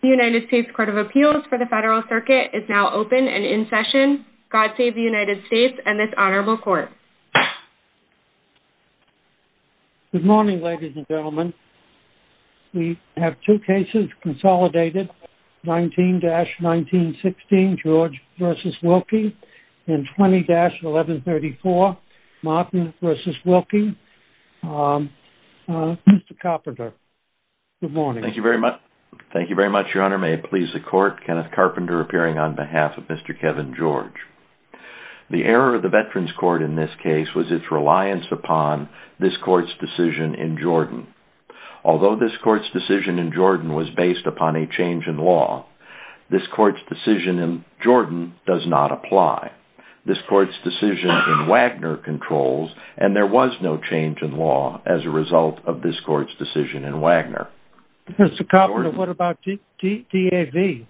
The United States Court of Appeals for the Federal Circuit is now open and in session. God save the United States and this honorable court. Good morning, ladies and gentlemen. We have two cases consolidated, 19-1916, George v. Wilkie, and 20-1134, Martin v. Wilkie. Mr. Carpenter, good morning. Thank you very much. Thank you very much, your honor. May it please the court. Kenneth Carpenter appearing on behalf of Mr. Kevin George. The error of the Veterans Court in this case was its reliance upon this court's decision in Jordan. Although this court's decision in Jordan was based upon a change in law, this court's decision in Jordan does not apply. This court's decision in Wagner controls, and there was no change in law as a result of this court's decision in Wagner. Mr. Carpenter, what about DAV?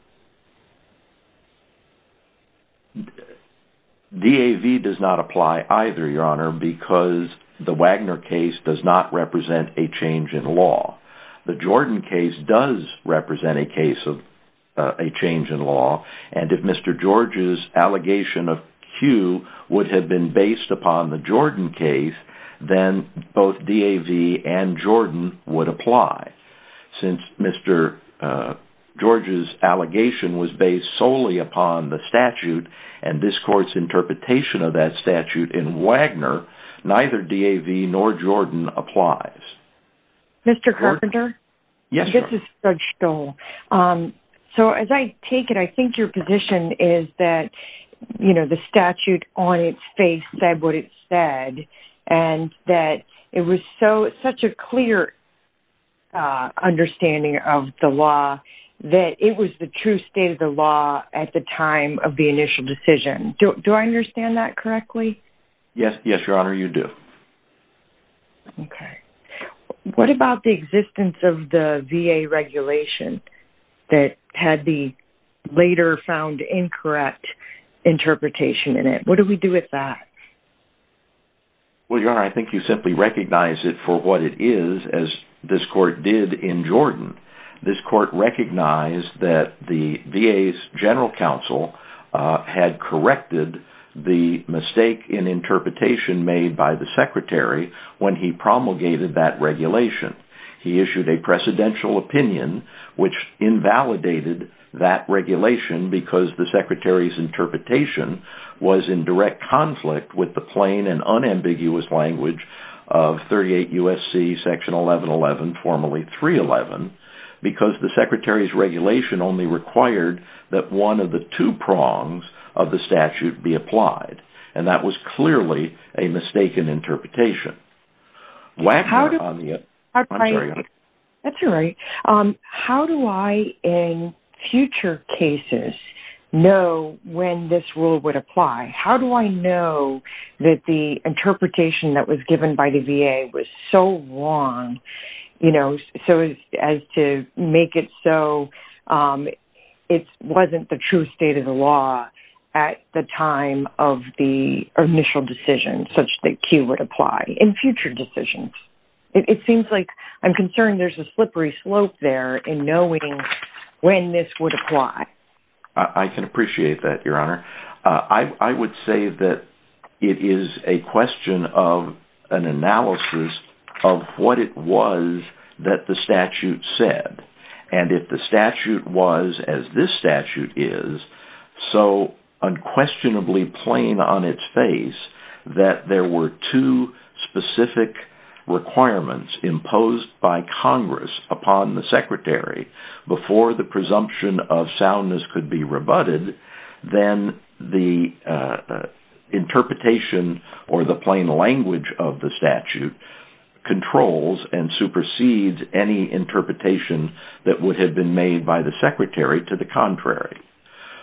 DAV does not apply either, your honor, because the Wagner case does not represent a change in law. The Jordan case does represent a case of a change in law, and if Mr. George's allegation of Q would have been based upon the Jordan case, then both DAV and Jordan would apply. Since Mr. George's allegation was based solely upon the statute and this court's interpretation of that statute in Wagner, neither DAV nor Jordan applies. Mr. Carpenter? Yes, your honor. This is Judge Stoll. So, as I take it, I think your position is that, you know, the statute on its face said what it said, and that it was such a clear understanding of the law that it was the true state of the law at the time of the initial decision. Do I understand that correctly? Yes, yes, your honor, you do. Okay. What about the existence of the VA regulation that had the later found incorrect interpretation in it? What do we do with that? Well, your honor, I think you simply recognize it for what it is, as this court did in Jordan. This court recognized that the VA's general counsel had corrected the mistake in interpretation made by the secretary when he promulgated that regulation. He issued a precedential opinion, which invalidated that regulation because the secretary's interpretation was in direct conflict with the plain and unambiguous language of 38 U.S.C. section 1111, formerly 311, because the secretary's regulation only required that one of the two prongs of the statute be applied. And that was clearly a mistaken interpretation. Wagner on the other hand, I'm sorry, your honor. That's all right. How do I, in future cases, know when this rule would apply? How do I know that the interpretation that was given by the VA was so wrong, you know, so as to make it so it wasn't the true state of the law at the time of the initial decision, such that Q would apply in future decisions? It seems like I'm concerned there's a slippery slope there in knowing when this would apply. I can appreciate that, your honor. I would say that it is a question of an analysis of what it was that the statute said. And if the statute was, as this statute is, so unquestionably plain on its face that there were two specific requirements imposed by Congress upon the secretary before the presumption of soundness could be rebutted, then the interpretation or the plain language of the statute controls and supersedes any interpretation that would have been made by the secretary to the contrary.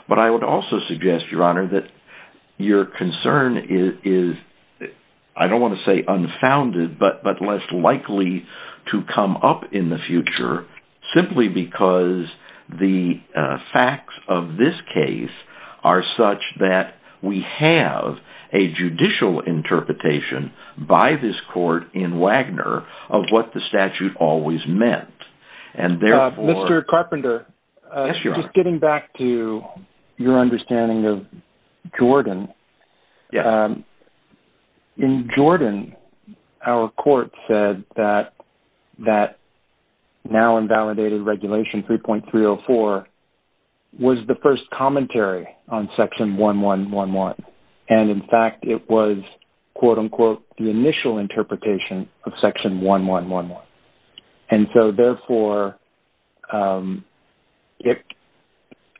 But I would also suggest, your honor, that your concern is, I don't want to say unfounded, but less likely to come up in the future simply because the facts of this case are such that we have a judicial interpretation by this court in Wagner of what the statute always meant. Mr. Carpenter, just getting back to your understanding of Jordan, in Jordan, our court said that that now invalidated regulation 3.304 was the first commentary on section 1111. And in fact, it was, quote unquote, the initial interpretation of section 1111. And so, therefore,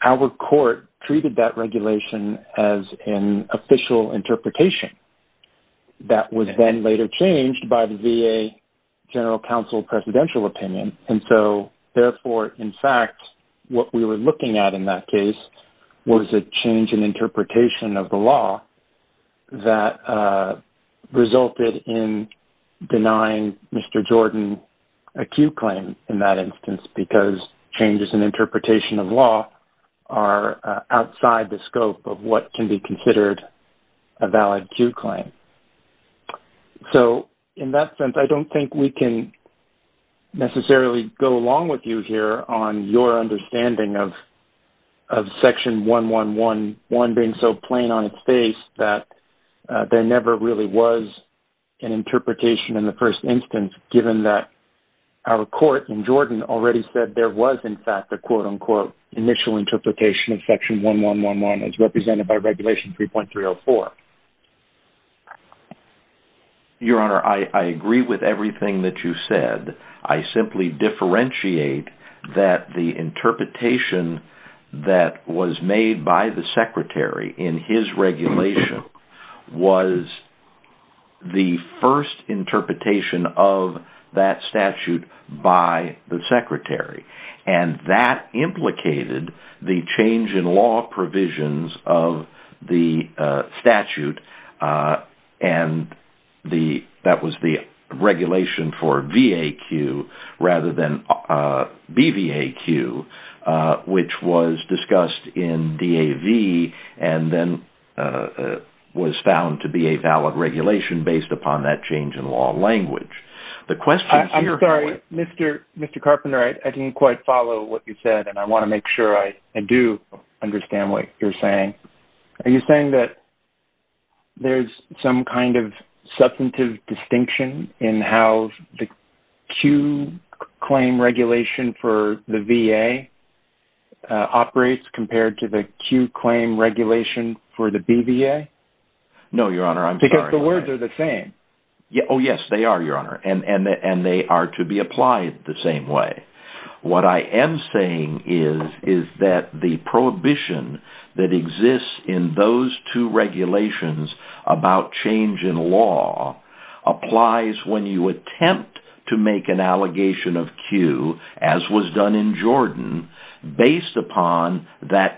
our court treated that regulation as an official interpretation that was then later changed by the VA General Counsel presidential opinion. And so, therefore, in fact, what we were looking at in that case was a change in interpretation of the law that resulted in denying Mr. Jordan a Q claim in that instance because changes in interpretation of law are outside the scope of what can be considered a valid Q claim. So, in that sense, I don't think we can necessarily go along with you here on your that there never really was an interpretation in the first instance, given that our court in Jordan already said there was, in fact, a quote unquote initial interpretation of section 1111 as represented by regulation 3.304. Your Honor, I agree with everything that you said. I simply differentiate that the interpretation that was made by the secretary in his regulation was the first interpretation of that statute by the secretary. And that implicated the change in law provisions of the statute, and that was the regulation for VAQ rather than BVAQ, which was discussed in DAV and then was found to be a valid regulation based upon that change in law language. The question here... I'm sorry, Mr. Carpenter, I didn't quite follow what you said, and I want to make sure I do understand what you're saying. Are you saying that there's some kind of substantive distinction in how the Q claim regulation for the VA operates compared to the Q claim regulation for the BVA? No, Your Honor, I'm sorry. Because the words are the same. Oh, yes, they are, Your Honor, and they are to be applied the same way. What I am saying is that the prohibition that exists in those two regulations about change in law applies when you attempt to make an allegation of Q, as was done in Jordan, based upon that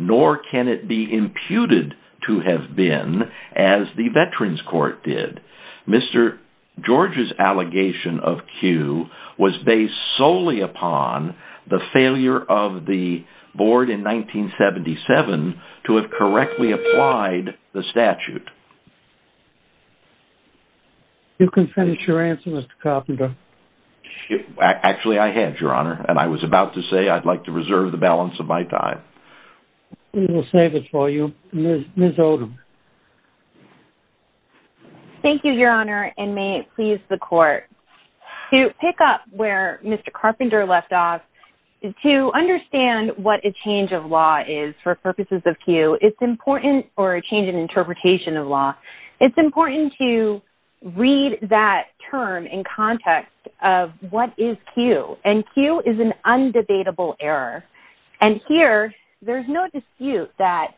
nor can it be imputed to have been as the Veterans Court did. Mr. George's allegation of Q was based solely upon the failure of the board in 1977 to have correctly applied the statute. You can finish your answer, Mr. Carpenter. Actually, I had, Your Honor, and I was about to say I'd like to reserve the balance of my time. We will save it for you. Ms. Odom. Thank you, Your Honor, and may it please the Court. To pick up where Mr. Carpenter left off, to understand what a change of law is for purposes of Q, it's important, or a change in interpretation of law, it's important to read that term in context of what is Q, and Q is an undebatable error. Here, there's no dispute that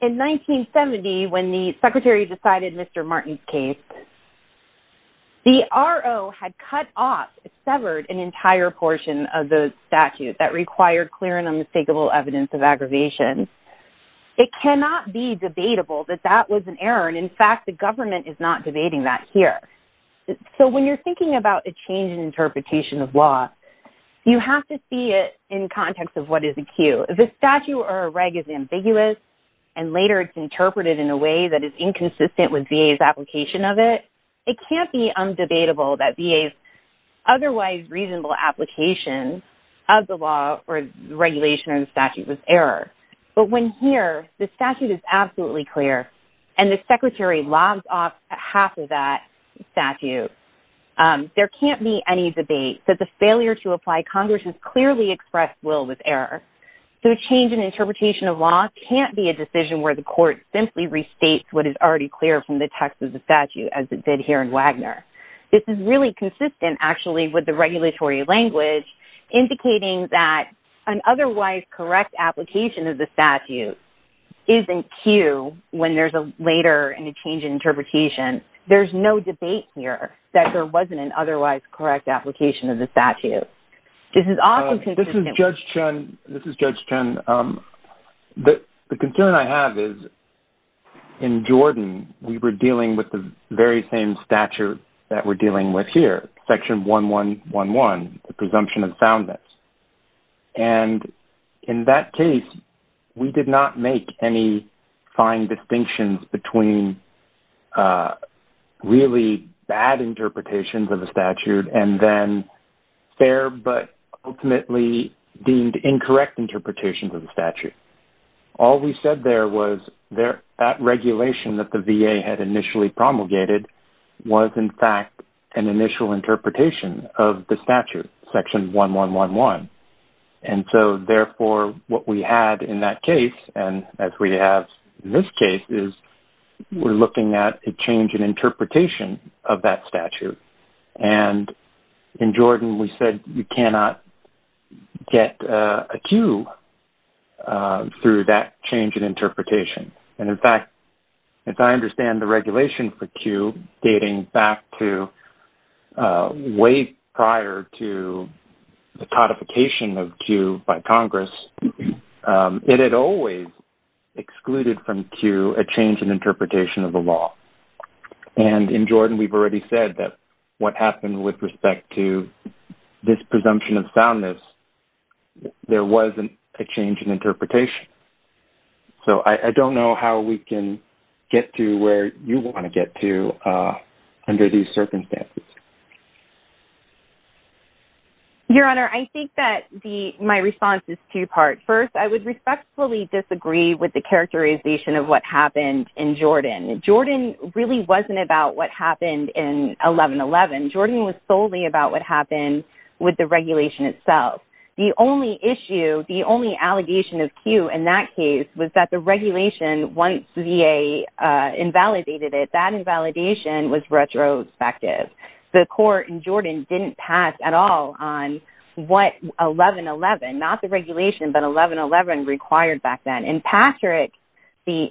in 1970, when the Secretary decided Mr. Martin's case, the RO had cut off, severed an entire portion of the statute that required clear and unmistakable evidence of aggravation. It cannot be debatable that that was an error, and in fact, the government is not debating that here. When you're thinking about a change interpretation of law, you have to see it in context of what is a Q. If a statute or a reg is ambiguous, and later it's interpreted in a way that is inconsistent with VA's application of it, it can't be undebatable that VA's otherwise reasonable application of the law or regulation of the statute was error, but when here, the statute is absolutely clear, and the Secretary logs off half of that statute, there can't be any debate that the failure to apply Congress has clearly expressed will with error, so a change in interpretation of law can't be a decision where the court simply restates what is already clear from the text of the statute, as it did here in Wagner. This is really consistent, actually, with the regulatory language, indicating that an otherwise correct application of the statute is in Q when there's a later change in interpretation. There's no debate here that there wasn't an otherwise correct application of the statute. This is also consistent with... This is Judge Chen. The concern I have is in Jordan, we were dealing with the very same statute that we're dealing with here, Section 1111, the presumption of soundness, and in that case, we did not make any fine distinctions between really bad interpretations of the statute and then fair but ultimately deemed incorrect interpretations of the statute. All we said there was that regulation that the VA had initially promulgated was in fact an initial interpretation of the statute, Section 1111. Therefore, what we had in that case and as we have in this case is we're looking at a change in interpretation of that statute. In Jordan, we said you cannot get a Q through that change in interpretation. In fact, as I understand the regulation for Q dating back to way prior to the codification of Q by Congress, it had always excluded from Q a change in interpretation of the law. In Jordan, we've already said that what happened with respect to this presumption of soundness, there wasn't a change in interpretation. So, I don't know how we can get to where you want to get to under these circumstances. Your Honor, I think that my response is two-part. First, I would respectfully disagree with the characterization of what happened in Jordan. Jordan really wasn't about what happened in the case. The only issue, the only allegation of Q in that case was that the regulation, once VA invalidated it, that invalidation was retrospective. The court in Jordan didn't pass at all on what 1111, not the regulation, but 1111 required back then. In Patrick, the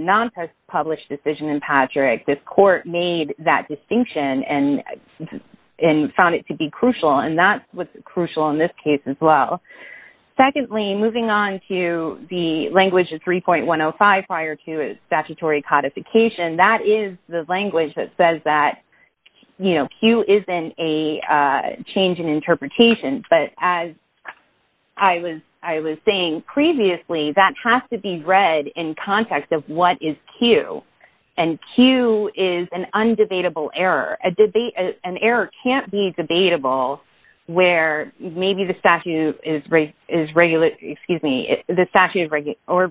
non-published decision in Patrick, the court made that distinction and found it to be crucial. That's what's crucial in this case as well. Secondly, moving on to the language of 3.105 prior to statutory codification, that is the language that says that Q isn't a change in interpretation. But as I was saying previously, that has to be read in context of what is Q. Q is an undebatable error. An error can't be debatable where maybe the statute or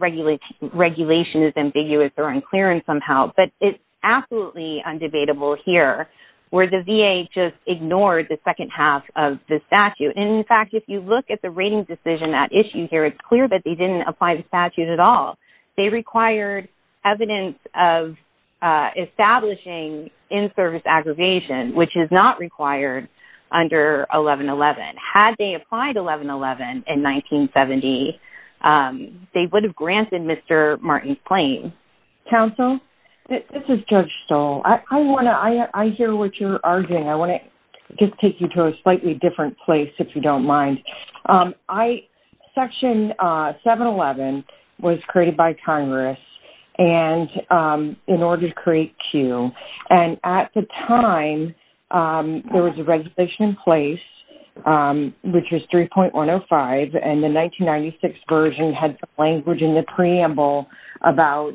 regulation is ambiguous or unclear somehow, but it's absolutely undebatable here where the VA just ignored the second half of the statute. In fact, if you look at the rating decision at issue here, it's clear that they didn't apply the statute at all. They required evidence of establishing in-service aggregation, which is not required under 1111. Had they applied 1111 in 1970, they would have granted Mr. Martin's claim. Counsel, this is Judge Stoll. I hear what you're arguing. I want to just take you to a slightly different place if you don't mind. Section 711 was created by Congress in order to create Q. At the time, there was a regulation in place, which was 3.105. The 1996 version had language in the preamble about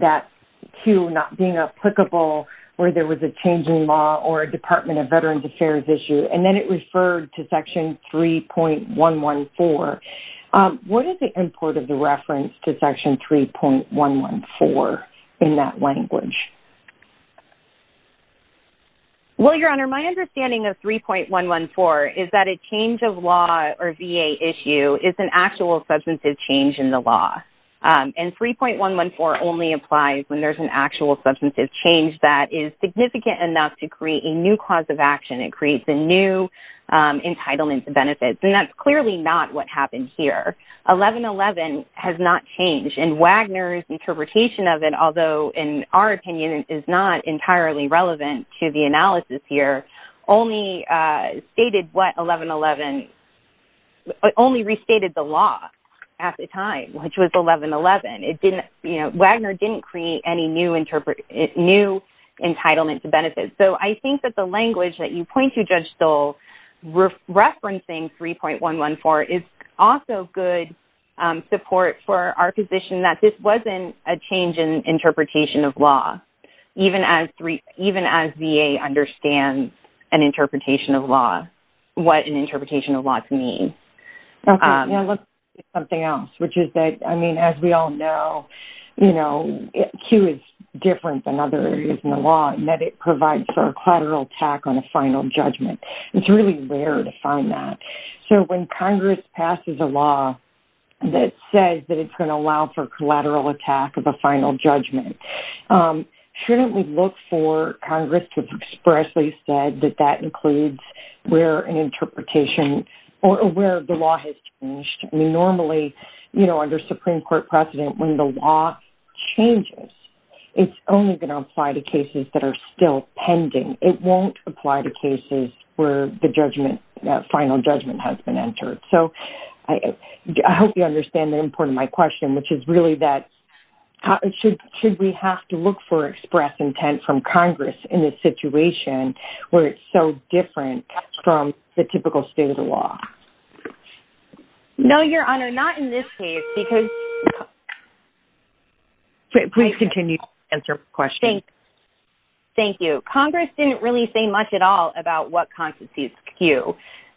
that Q not being applicable where there was a change in law or a Department of Veterans 3.114. What is the import of the reference to Section 3.114 in that language? Well, Your Honor, my understanding of 3.114 is that a change of law or VA issue is an actual substantive change in the law. 3.114 only applies when there's an actual substantive change that is and that's clearly not what happened here. 1111 has not changed and Wagner's interpretation of it, although in our opinion it is not entirely relevant to the analysis here, only restated the law at the time, which was 1111. Wagner didn't create any new entitlement to benefits. So, the language that you point to, Judge Stoll, referencing 3.114 is also good support for our position that this wasn't a change in interpretation of law, even as VA understands an interpretation of law, what an interpretation of law can mean. Something else, which is that, as we all know, Q is different than other areas in the law in that it provides for a collateral attack on a final judgment. It's really rare to find that. So, when Congress passes a law that says that it's going to allow for collateral attack of a final judgment, shouldn't we look for Congress to expressly say that that includes where an interpretation or where the law has changed? I mean, normally, you know, under Supreme Court precedent, when the law changes, it's only going to apply to cases that are still pending. It won't apply to cases where the final judgment has been entered. So, I hope you understand the import of my question, which is really that, should we have to look for express intent from Congress in this situation where it's so different from the typical state of the law? No, Your Honor, not in this case, because... Please continue to answer questions. Thank you. Congress didn't really say much at all about what constitutes Q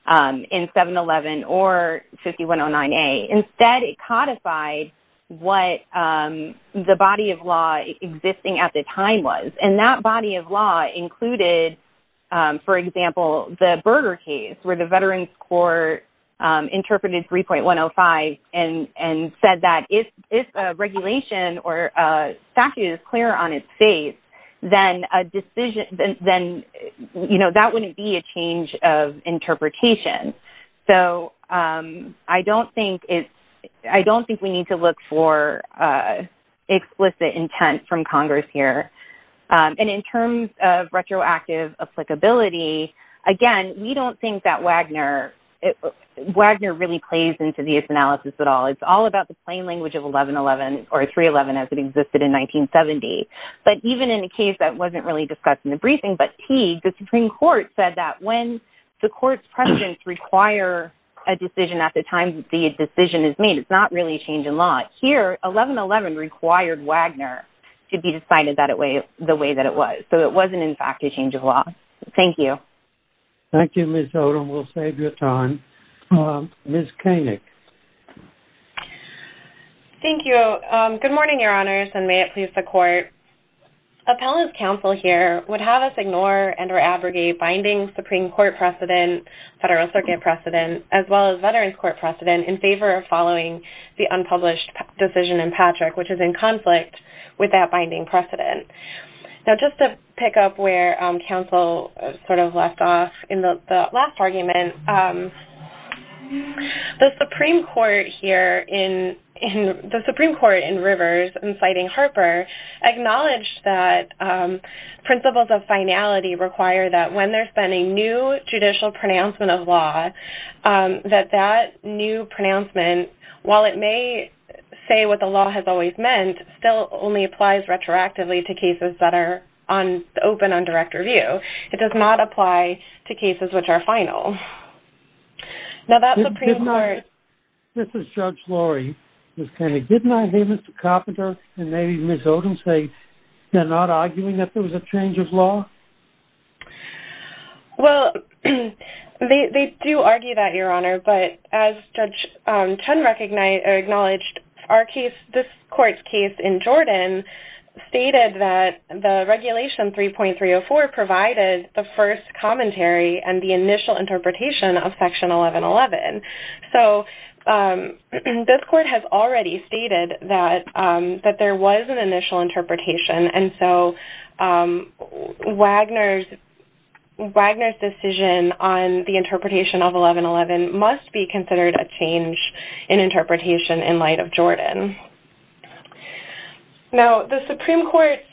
in 711 or 5109A. Instead, it codified what the body of law existing at the time was. And that body of law included, for example, the Berger case where the Veterans Court interpreted 3.105 and said that if a regulation or statute is clear on its face, then a decision, then, you know, that wouldn't be a change of interpretation. So, I don't think we need to look for explicit intent from Congress here. And in terms of retroactive applicability, again, we don't think that Wagner really plays into this analysis at all. It's all about the plain language of 1111 or 311 as it existed in 1970. But even in a case that wasn't really discussed in the briefing, but Teague, the Supreme Court said that when the court's precedents require a decision at the time the decision is not really a change in law. Here, 1111 required Wagner to be decided the way that it was. So, it wasn't, in fact, a change of law. Thank you. Thank you, Ms. Odom. We'll save you time. Ms. Koenig. Thank you. Good morning, Your Honors, and may it please the Court. Appellant's counsel here would have us ignore and or abrogate binding Supreme Court precedent, Federal Circuit precedent, as well as Veterans Court precedent in favor of following the unpublished decision in Patrick, which is in conflict with that binding precedent. Now, just to pick up where counsel sort of left off in the last argument, the Supreme Court here in the Supreme Court in Rivers, inciting Harper, acknowledged that principles of finality require that when there's been a new judicial pronouncement of law, that that new pronouncement, while it may say what the law has always meant, still only applies retroactively to cases that are open on direct review. It does not apply to cases which are final. Now, that Supreme Court- This is Judge Lori, Ms. Koenig. Didn't I hear Mr. Carpenter and maybe Ms. Odom say they're not arguing that there was a change of law? Well, they do argue that, Your Honor, but as Judge Chun acknowledged, our case, this Court's case in Jordan, stated that the Regulation 3.304 provided the first commentary and the there was an initial interpretation. And so, Wagner's decision on the interpretation of 1111 must be considered a change in interpretation in light of Jordan. Now, the Supreme Court's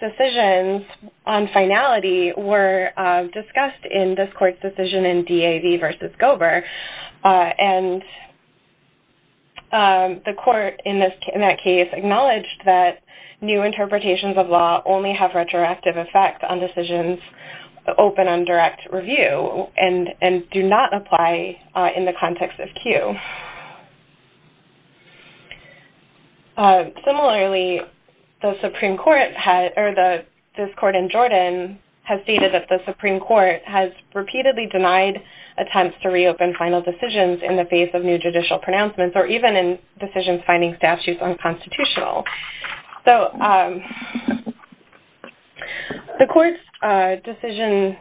decisions on finality were discussed in this Court's decision in DAV versus Gober. And the Court, in that case, acknowledged that new interpretations of law only have retroactive effect on decisions open on direct review and do not apply in the context of Q. Similarly, the Supreme Court, or this Court in Jordan, has stated that the Supreme Court has to reopen final decisions in the face of new judicial pronouncements or even in decisions finding statutes unconstitutional. So, the Court's decision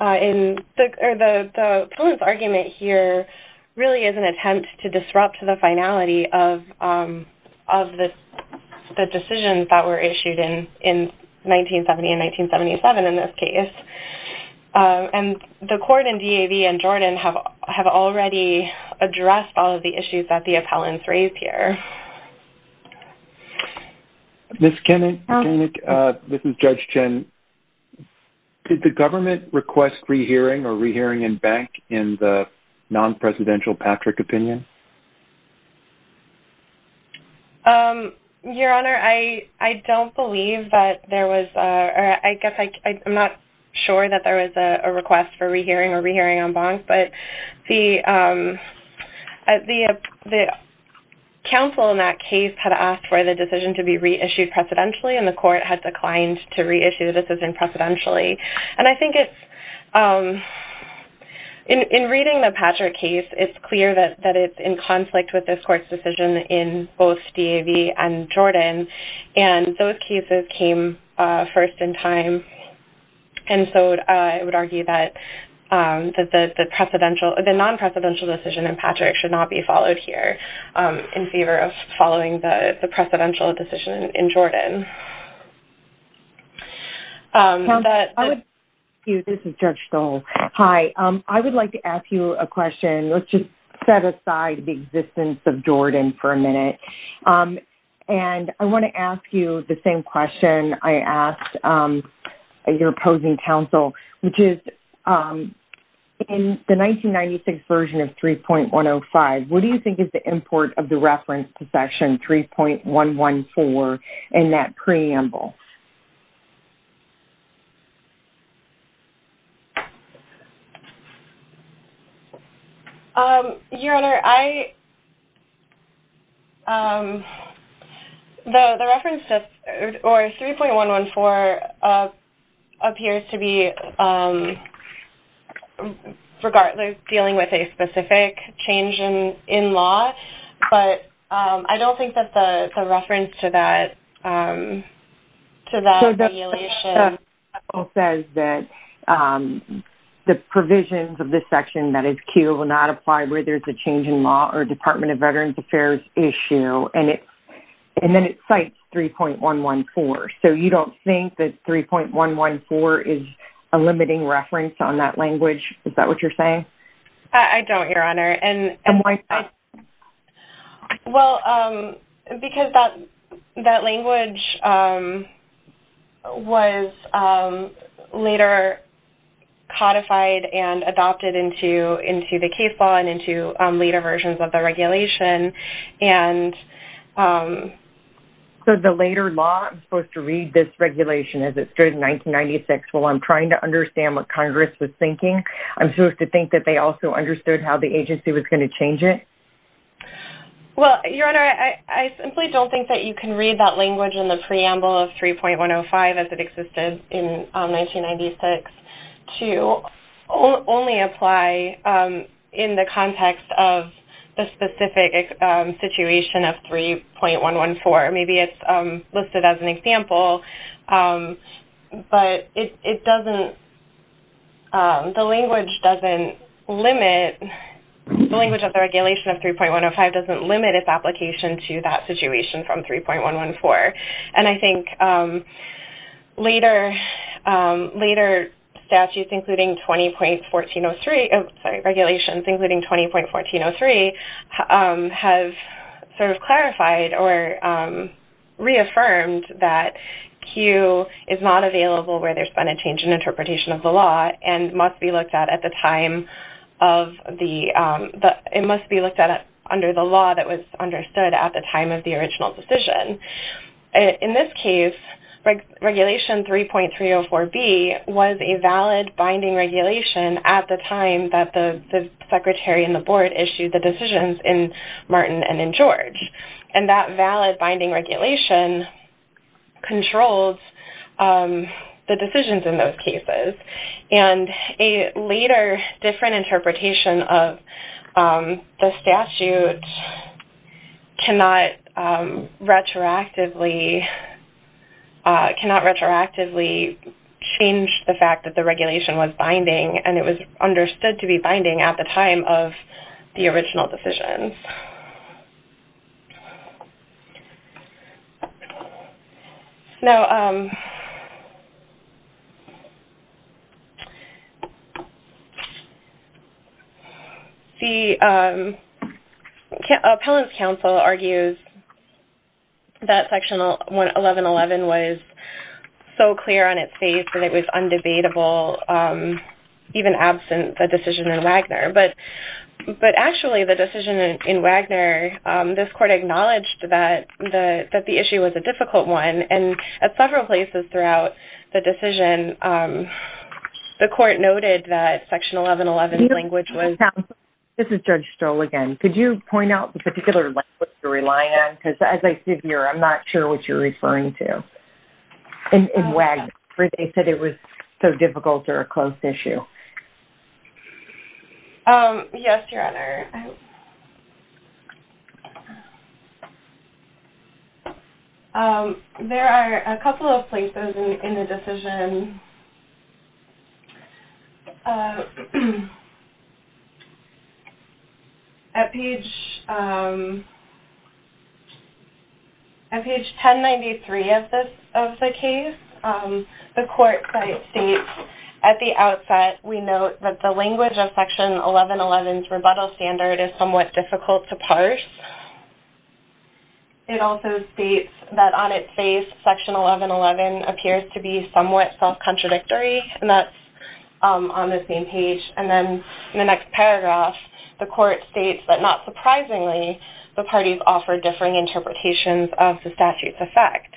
in- or the opponent's argument here really is an attempt to disrupt the finality of the decisions that were issued in 1970 and 1977 in this case. And the Court in DAV and Jordan have already addressed all of the issues that the appellants raised here. Ms. Koenig, this is Judge Chun. Did the government request rehearing or rehearing in bank in the non-presidential Patrick opinion? Your Honor, I don't believe that there was a- or I guess I'm not sure that there was a request for rehearing or rehearing on banks. But the counsel in that case had asked for the decision to be reissued presidentially, and the Court had declined to reissue the decision precedentially. And I think it's- in reading the Patrick case, it's clear that it's a decision that's in conflict with this Court's decision in both DAV and Jordan. And those cases came first in time. And so, I would argue that the non-presidential decision in Patrick should not be followed here in favor of following the presidential decision in Jordan. I would- Thank you. This is Judge Stoll. Hi. I would like to ask you a question. Let's just set aside the existence of Jordan for a minute. And I want to ask you the same question I asked your opposing counsel, which is in the 1996 version of 3.105, what do you think is the import of the reference to Section 3.114 in that preamble? Your Honor, I- the reference to- or 3.114 appears to be regardless dealing with a specific change in law. But I don't think that the reference to that to that regulation- So, that says that the provisions of this section, that is Q, will not apply where there's a change in law or Department of Veterans Affairs issue. And then it cites 3.114. So, you don't think that 3.114 is a limiting reference on that language? Is that what you're saying? I don't, Your Honor. And- And why not? Well, because that- that language was later codified and adopted into- into the case law and into later versions of the regulation. And- So, the later law- I'm supposed to read this regulation as it started in 1996. Well, I'm trying to understand what Congress was thinking. I'm supposed to think that they also understood how the agency was going to change it. Well, Your Honor, I- I simply don't think that you can read that language in the preamble of 3.105 as it existed in 1996 to only apply in the context of the specific situation of 3.114. Maybe it's listed as an example. But it- it doesn't- the language doesn't limit- the language of the regulation of 3.105 doesn't limit its application to that situation from 3.114. And I think later- later statutes including 20.1403- sorry, regulations including 20.1403 have sort of clarified or reaffirmed that Q is not available where there's been a change interpretation of the law and must be looked at at the time of the- it must be looked at under the law that was understood at the time of the original decision. In this case, regulation 3.304b was a valid binding regulation at the time that the- the secretary and the board issued the decisions in Martin and in George. And that valid binding regulation controls the decisions in those cases. And a later different interpretation of the statute cannot retroactively- cannot retroactively change the fact that the regulation was binding and it was understood to be binding at the time of the original decision. Now, the appellant's counsel argues that Section 1111 was so clear on its face that it was undebatable, even absent the decision in Wagner. But actually, the decision in Wagner- this court acknowledged that the- that the issue was a difficult one. And at several places throughout the decision, the court noted that Section 1111's language was- Counsel, this is Judge Stroll again. Could you point out the particular language you're relying on? Because as I see here, I'm not sure what you're referring to in Wagner. They said it was so difficult or a close issue. Um, yes, Your Honor. Um, there are a couple of places in the decision. At page, um, on page 1093 of this- of the case, um, the court states at the outset, we note that the language of Section 1111's rebuttal standard is somewhat difficult to parse. It also states that on its face, Section 1111 appears to be somewhat self-contradictory, and that's, um, on the same page. And then in the next paragraph, the court states that not of the statute's effect.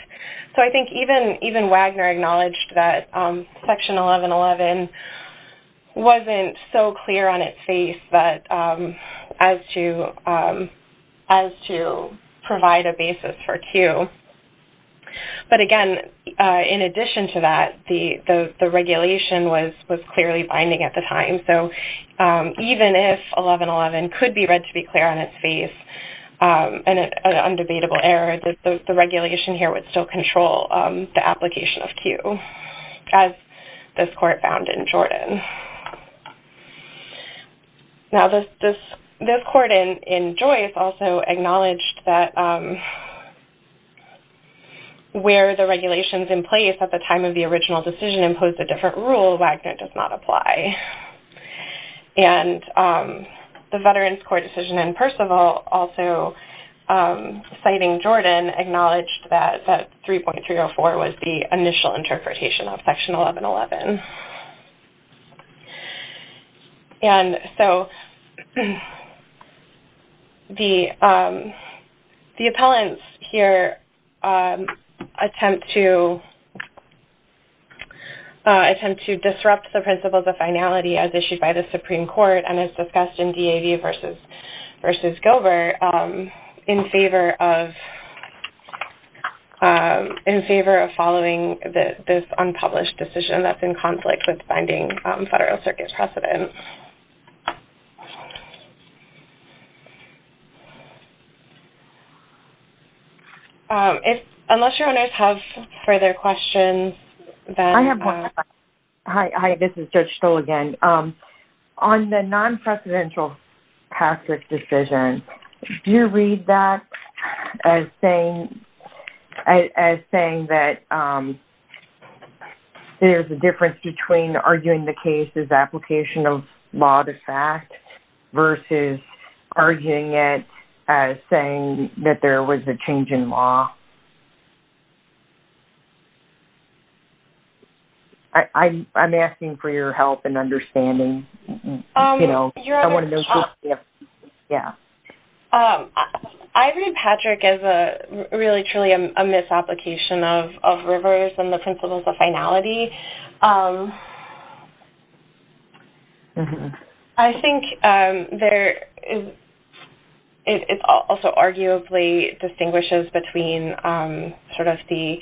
So I think even- even Wagner acknowledged that, um, Section 1111 wasn't so clear on its face that, um, as to, um, as to provide a basis for two. But again, uh, in addition to that, the- the- the regulation was- was clearly binding at the time. So, um, even if 1111 could be read to be clear on its face, um, and an undebatable error, that the- the regulation here would still control, um, the application of Q, as this court found in Jordan. Now this- this- this court in- in Joyce also acknowledged that, um, where the regulations in place at the time of the original decision impose a different rule, Wagner does not apply. And, um, the Veterans Court decision in Percival also, um, citing Jordan, acknowledged that- that 3.304 was the initial interpretation of Section 1111. And so the, um, the appellants here, um, attempt to attempt to disrupt the principles of finality as issued by the Supreme Court and as discussed in DAV versus- versus Gilbert, um, in favor of, um, in favor of following the- this unpublished decision that's in conflict with binding, um, Federal Circuit precedents. Um, if- unless your owners have further questions, then- I have one. Hi- hi, this is Judge Stoll again. Um, on the non-presidential passage decision, do you read that as saying- as- as saying that, um, there's a difference between arguing the case as application of law to fact versus arguing it as saying that there was a change in law? I- I'm- I'm asking for your help in understanding, um, you know- Yeah. Um, I read Patrick as a- really truly a misapplication of- of reverse and the principles of finality. Um, I think, um, there is- it- it also arguably distinguishes between, um, sort of the-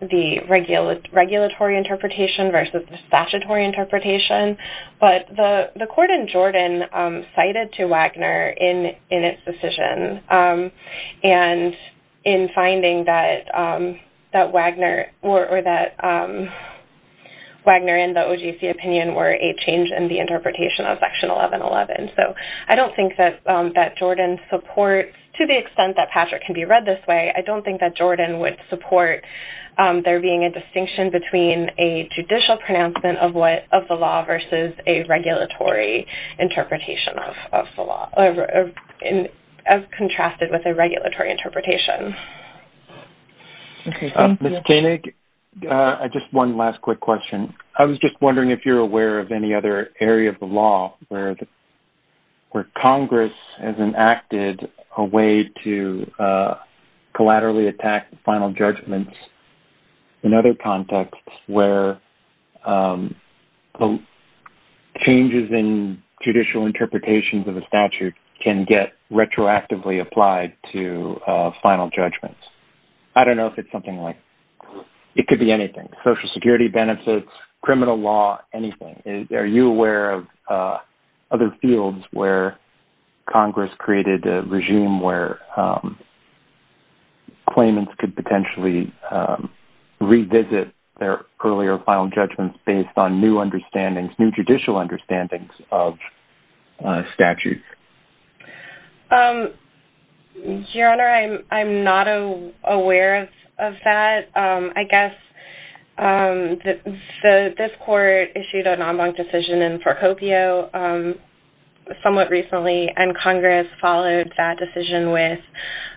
the regular- regulatory interpretation versus the statutory interpretation, but the- the court in Jordan, um, cited to Wagner in- in its decision, um, and in finding that, um, that Wagner or- or that, um, Wagner and the OGC opinion were a change in the interpretation of Section 1111. So, I don't think that, um, that Jordan supports- to the extent that Patrick can be read this way, I don't think that Jordan would support, um, there being a distinction between a judicial pronouncement of what- of the law versus a regulatory interpretation of- of the law- of- of- of- of contrasted with a regulatory interpretation. Okay. Thank you. Ms. Koenig, uh, just one last quick question. I was just wondering if you're aware of any other area of the law where- where Congress has enacted a way to, uh, collaterally attack final judgments in other contexts where, um, the changes in judicial interpretations of a statute can get retroactively applied to, uh, final judgments. I don't know if it's something like- it could be anything, social security benefits, criminal law, anything. Is- are you aware of, uh, other fields where Congress created a regime where, um, claimants could potentially, um, revisit their earlier final judgments based on new understandings- new judicial understandings of, uh, statutes? Um, Your Honor, I'm- I'm not a- aware of- of that. Um, I guess, um, the- the- this court issued an en banc decision in Forcopio, um, somewhat recently, and Congress followed that decision with,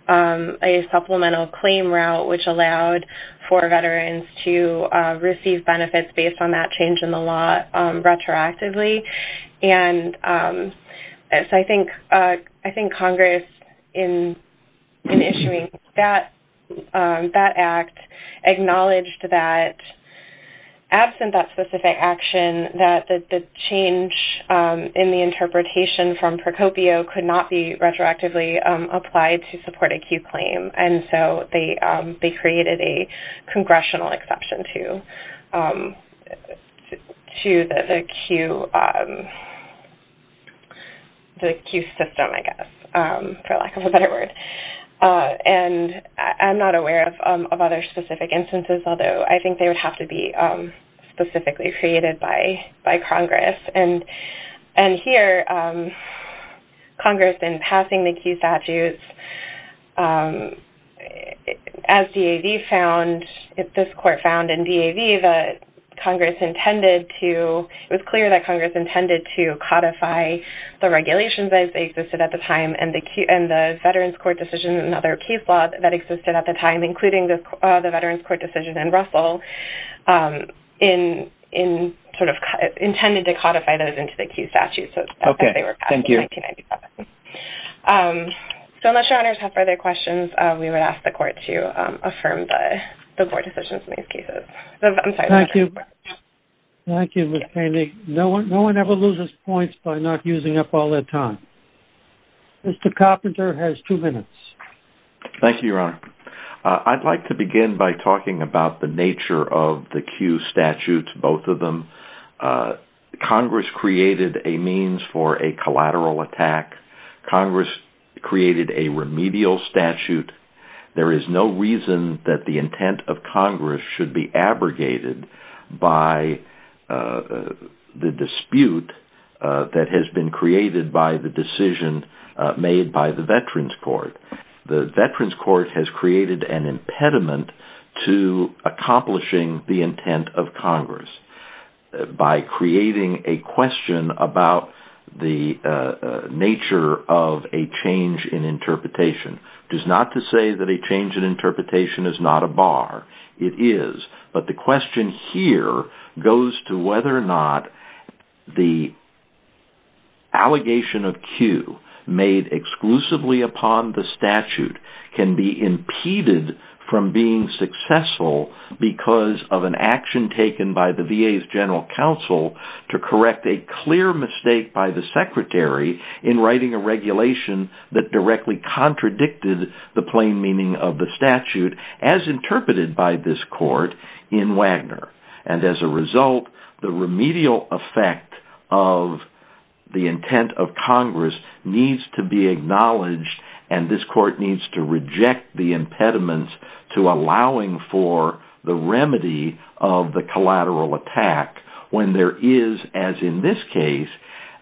um, a supplemental claim route which allowed for veterans to, uh, receive benefits based on that change in the law, um, retroactively. And, um, so I think, uh, I think Congress in- in issuing that, um, that act acknowledged that, absent that specific action, that the- the change, um, in the interpretation from Forcopio could not be retroactively, um, applied to support a Q claim. And so they, um, they created a the Q system, I guess, um, for lack of a better word. Uh, and I- I'm not aware of, um, of other specific instances, although I think they would have to be, um, specifically created by- by Congress. And- and here, um, Congress in passing the Q statutes, um, as DAV found- if this court found in DAV that Congress intended to- it was clear that Congress intended to codify the regulations as they existed at the time, and the Q- and the Veterans Court decision, another case law that existed at the time, including the, uh, the Veterans Court decision in Russell, um, in- in, sort of, intended to codify those into the Q statutes as they were passed in 1997. Um, so unless your honors have further questions, uh, we would ask the court to, um, affirm the- the board decisions in these cases. I'm sorry. Thank you. Thank you, Mr. Haney. No one- no one ever loses points by not using up all their time. Mr. Carpenter has two minutes. Thank you, your honor. Uh, I'd like to begin by talking about the nature of the Q statutes, both of them. Uh, Congress created a means for a collateral attack. Congress created a remedial statute. There is no reason that the intent of Congress should be abrogated by, uh, the dispute, uh, that has been created by the decision, uh, made by the Veterans Court. The Veterans Court has created an impediment to accomplishing the intent of Congress, uh, by creating a question about the, uh, uh, nature of a change in interpretation. It is not to say that a change in interpretation is not a bar. It is, but the question here goes to whether or not the allegation of Q made exclusively upon the statute can be impeded from being successful because of an action taken by the VA's general counsel to correct a clear mistake by the secretary in writing a regulation that directly contradicted the plain meaning of the statute, as interpreted by this court in Wagner. And as a result, the remedial effect of the intent of Congress needs to be acknowledged, and this court needs to reject the impediments to allowing for the remedy of the collateral attack when there is, as in this case,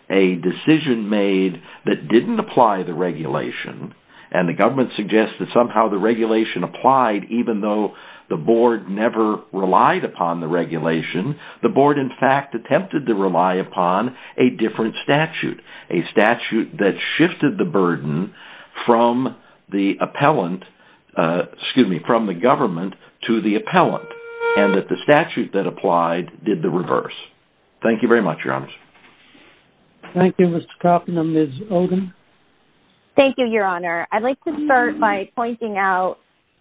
a decision made that didn't apply the regulation, and the government suggests that somehow the regulation applied even though the board never relied upon the regulation. The board, in fact, attempted to rely upon a different statute, a statute that shifted the burden from the appellant, excuse me, from the government to the appellant, and that the statute that applied did the reverse. Thank you very much, Your Honor. Thank you, Mr. Kaufman. Ms. Oden. Thank you, Your Honor. I'd like to start by pointing out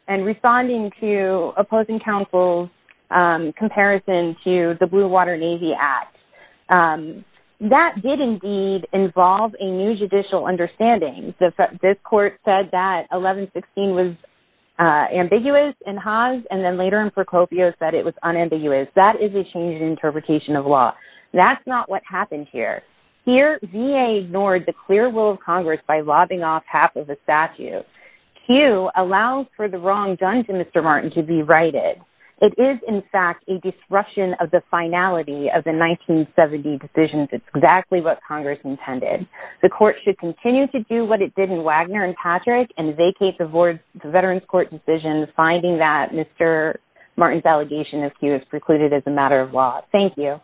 and responding to opposing counsel's comparison to the Blue Water Navy Act. That did indeed involve a new judicial understanding. This court said that 1116 was ambiguous in Haas, and then later in Procopio said it was unambiguous. That is a change in interpretation of law. That's not what happened here. Here, VA ignored the clear rule of Congress by lobbing off half of the statute. Q allows for the wrong done to Mr. Martin to be righted. It is, in fact, a disruption of the finality of the 1970 decisions. It's exactly what Congress intended. The court should continue to do what it did in Wagner and Patrick and vacate the board's Veterans Court decision, finding that Mr. Martin's allegation of Q is precluded as a matter of law. Thank you.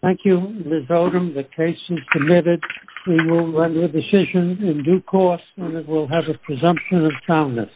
Thank you, Ms. Oden. The case is committed. We will run the decision in due course, and it will have a presumption of calmness.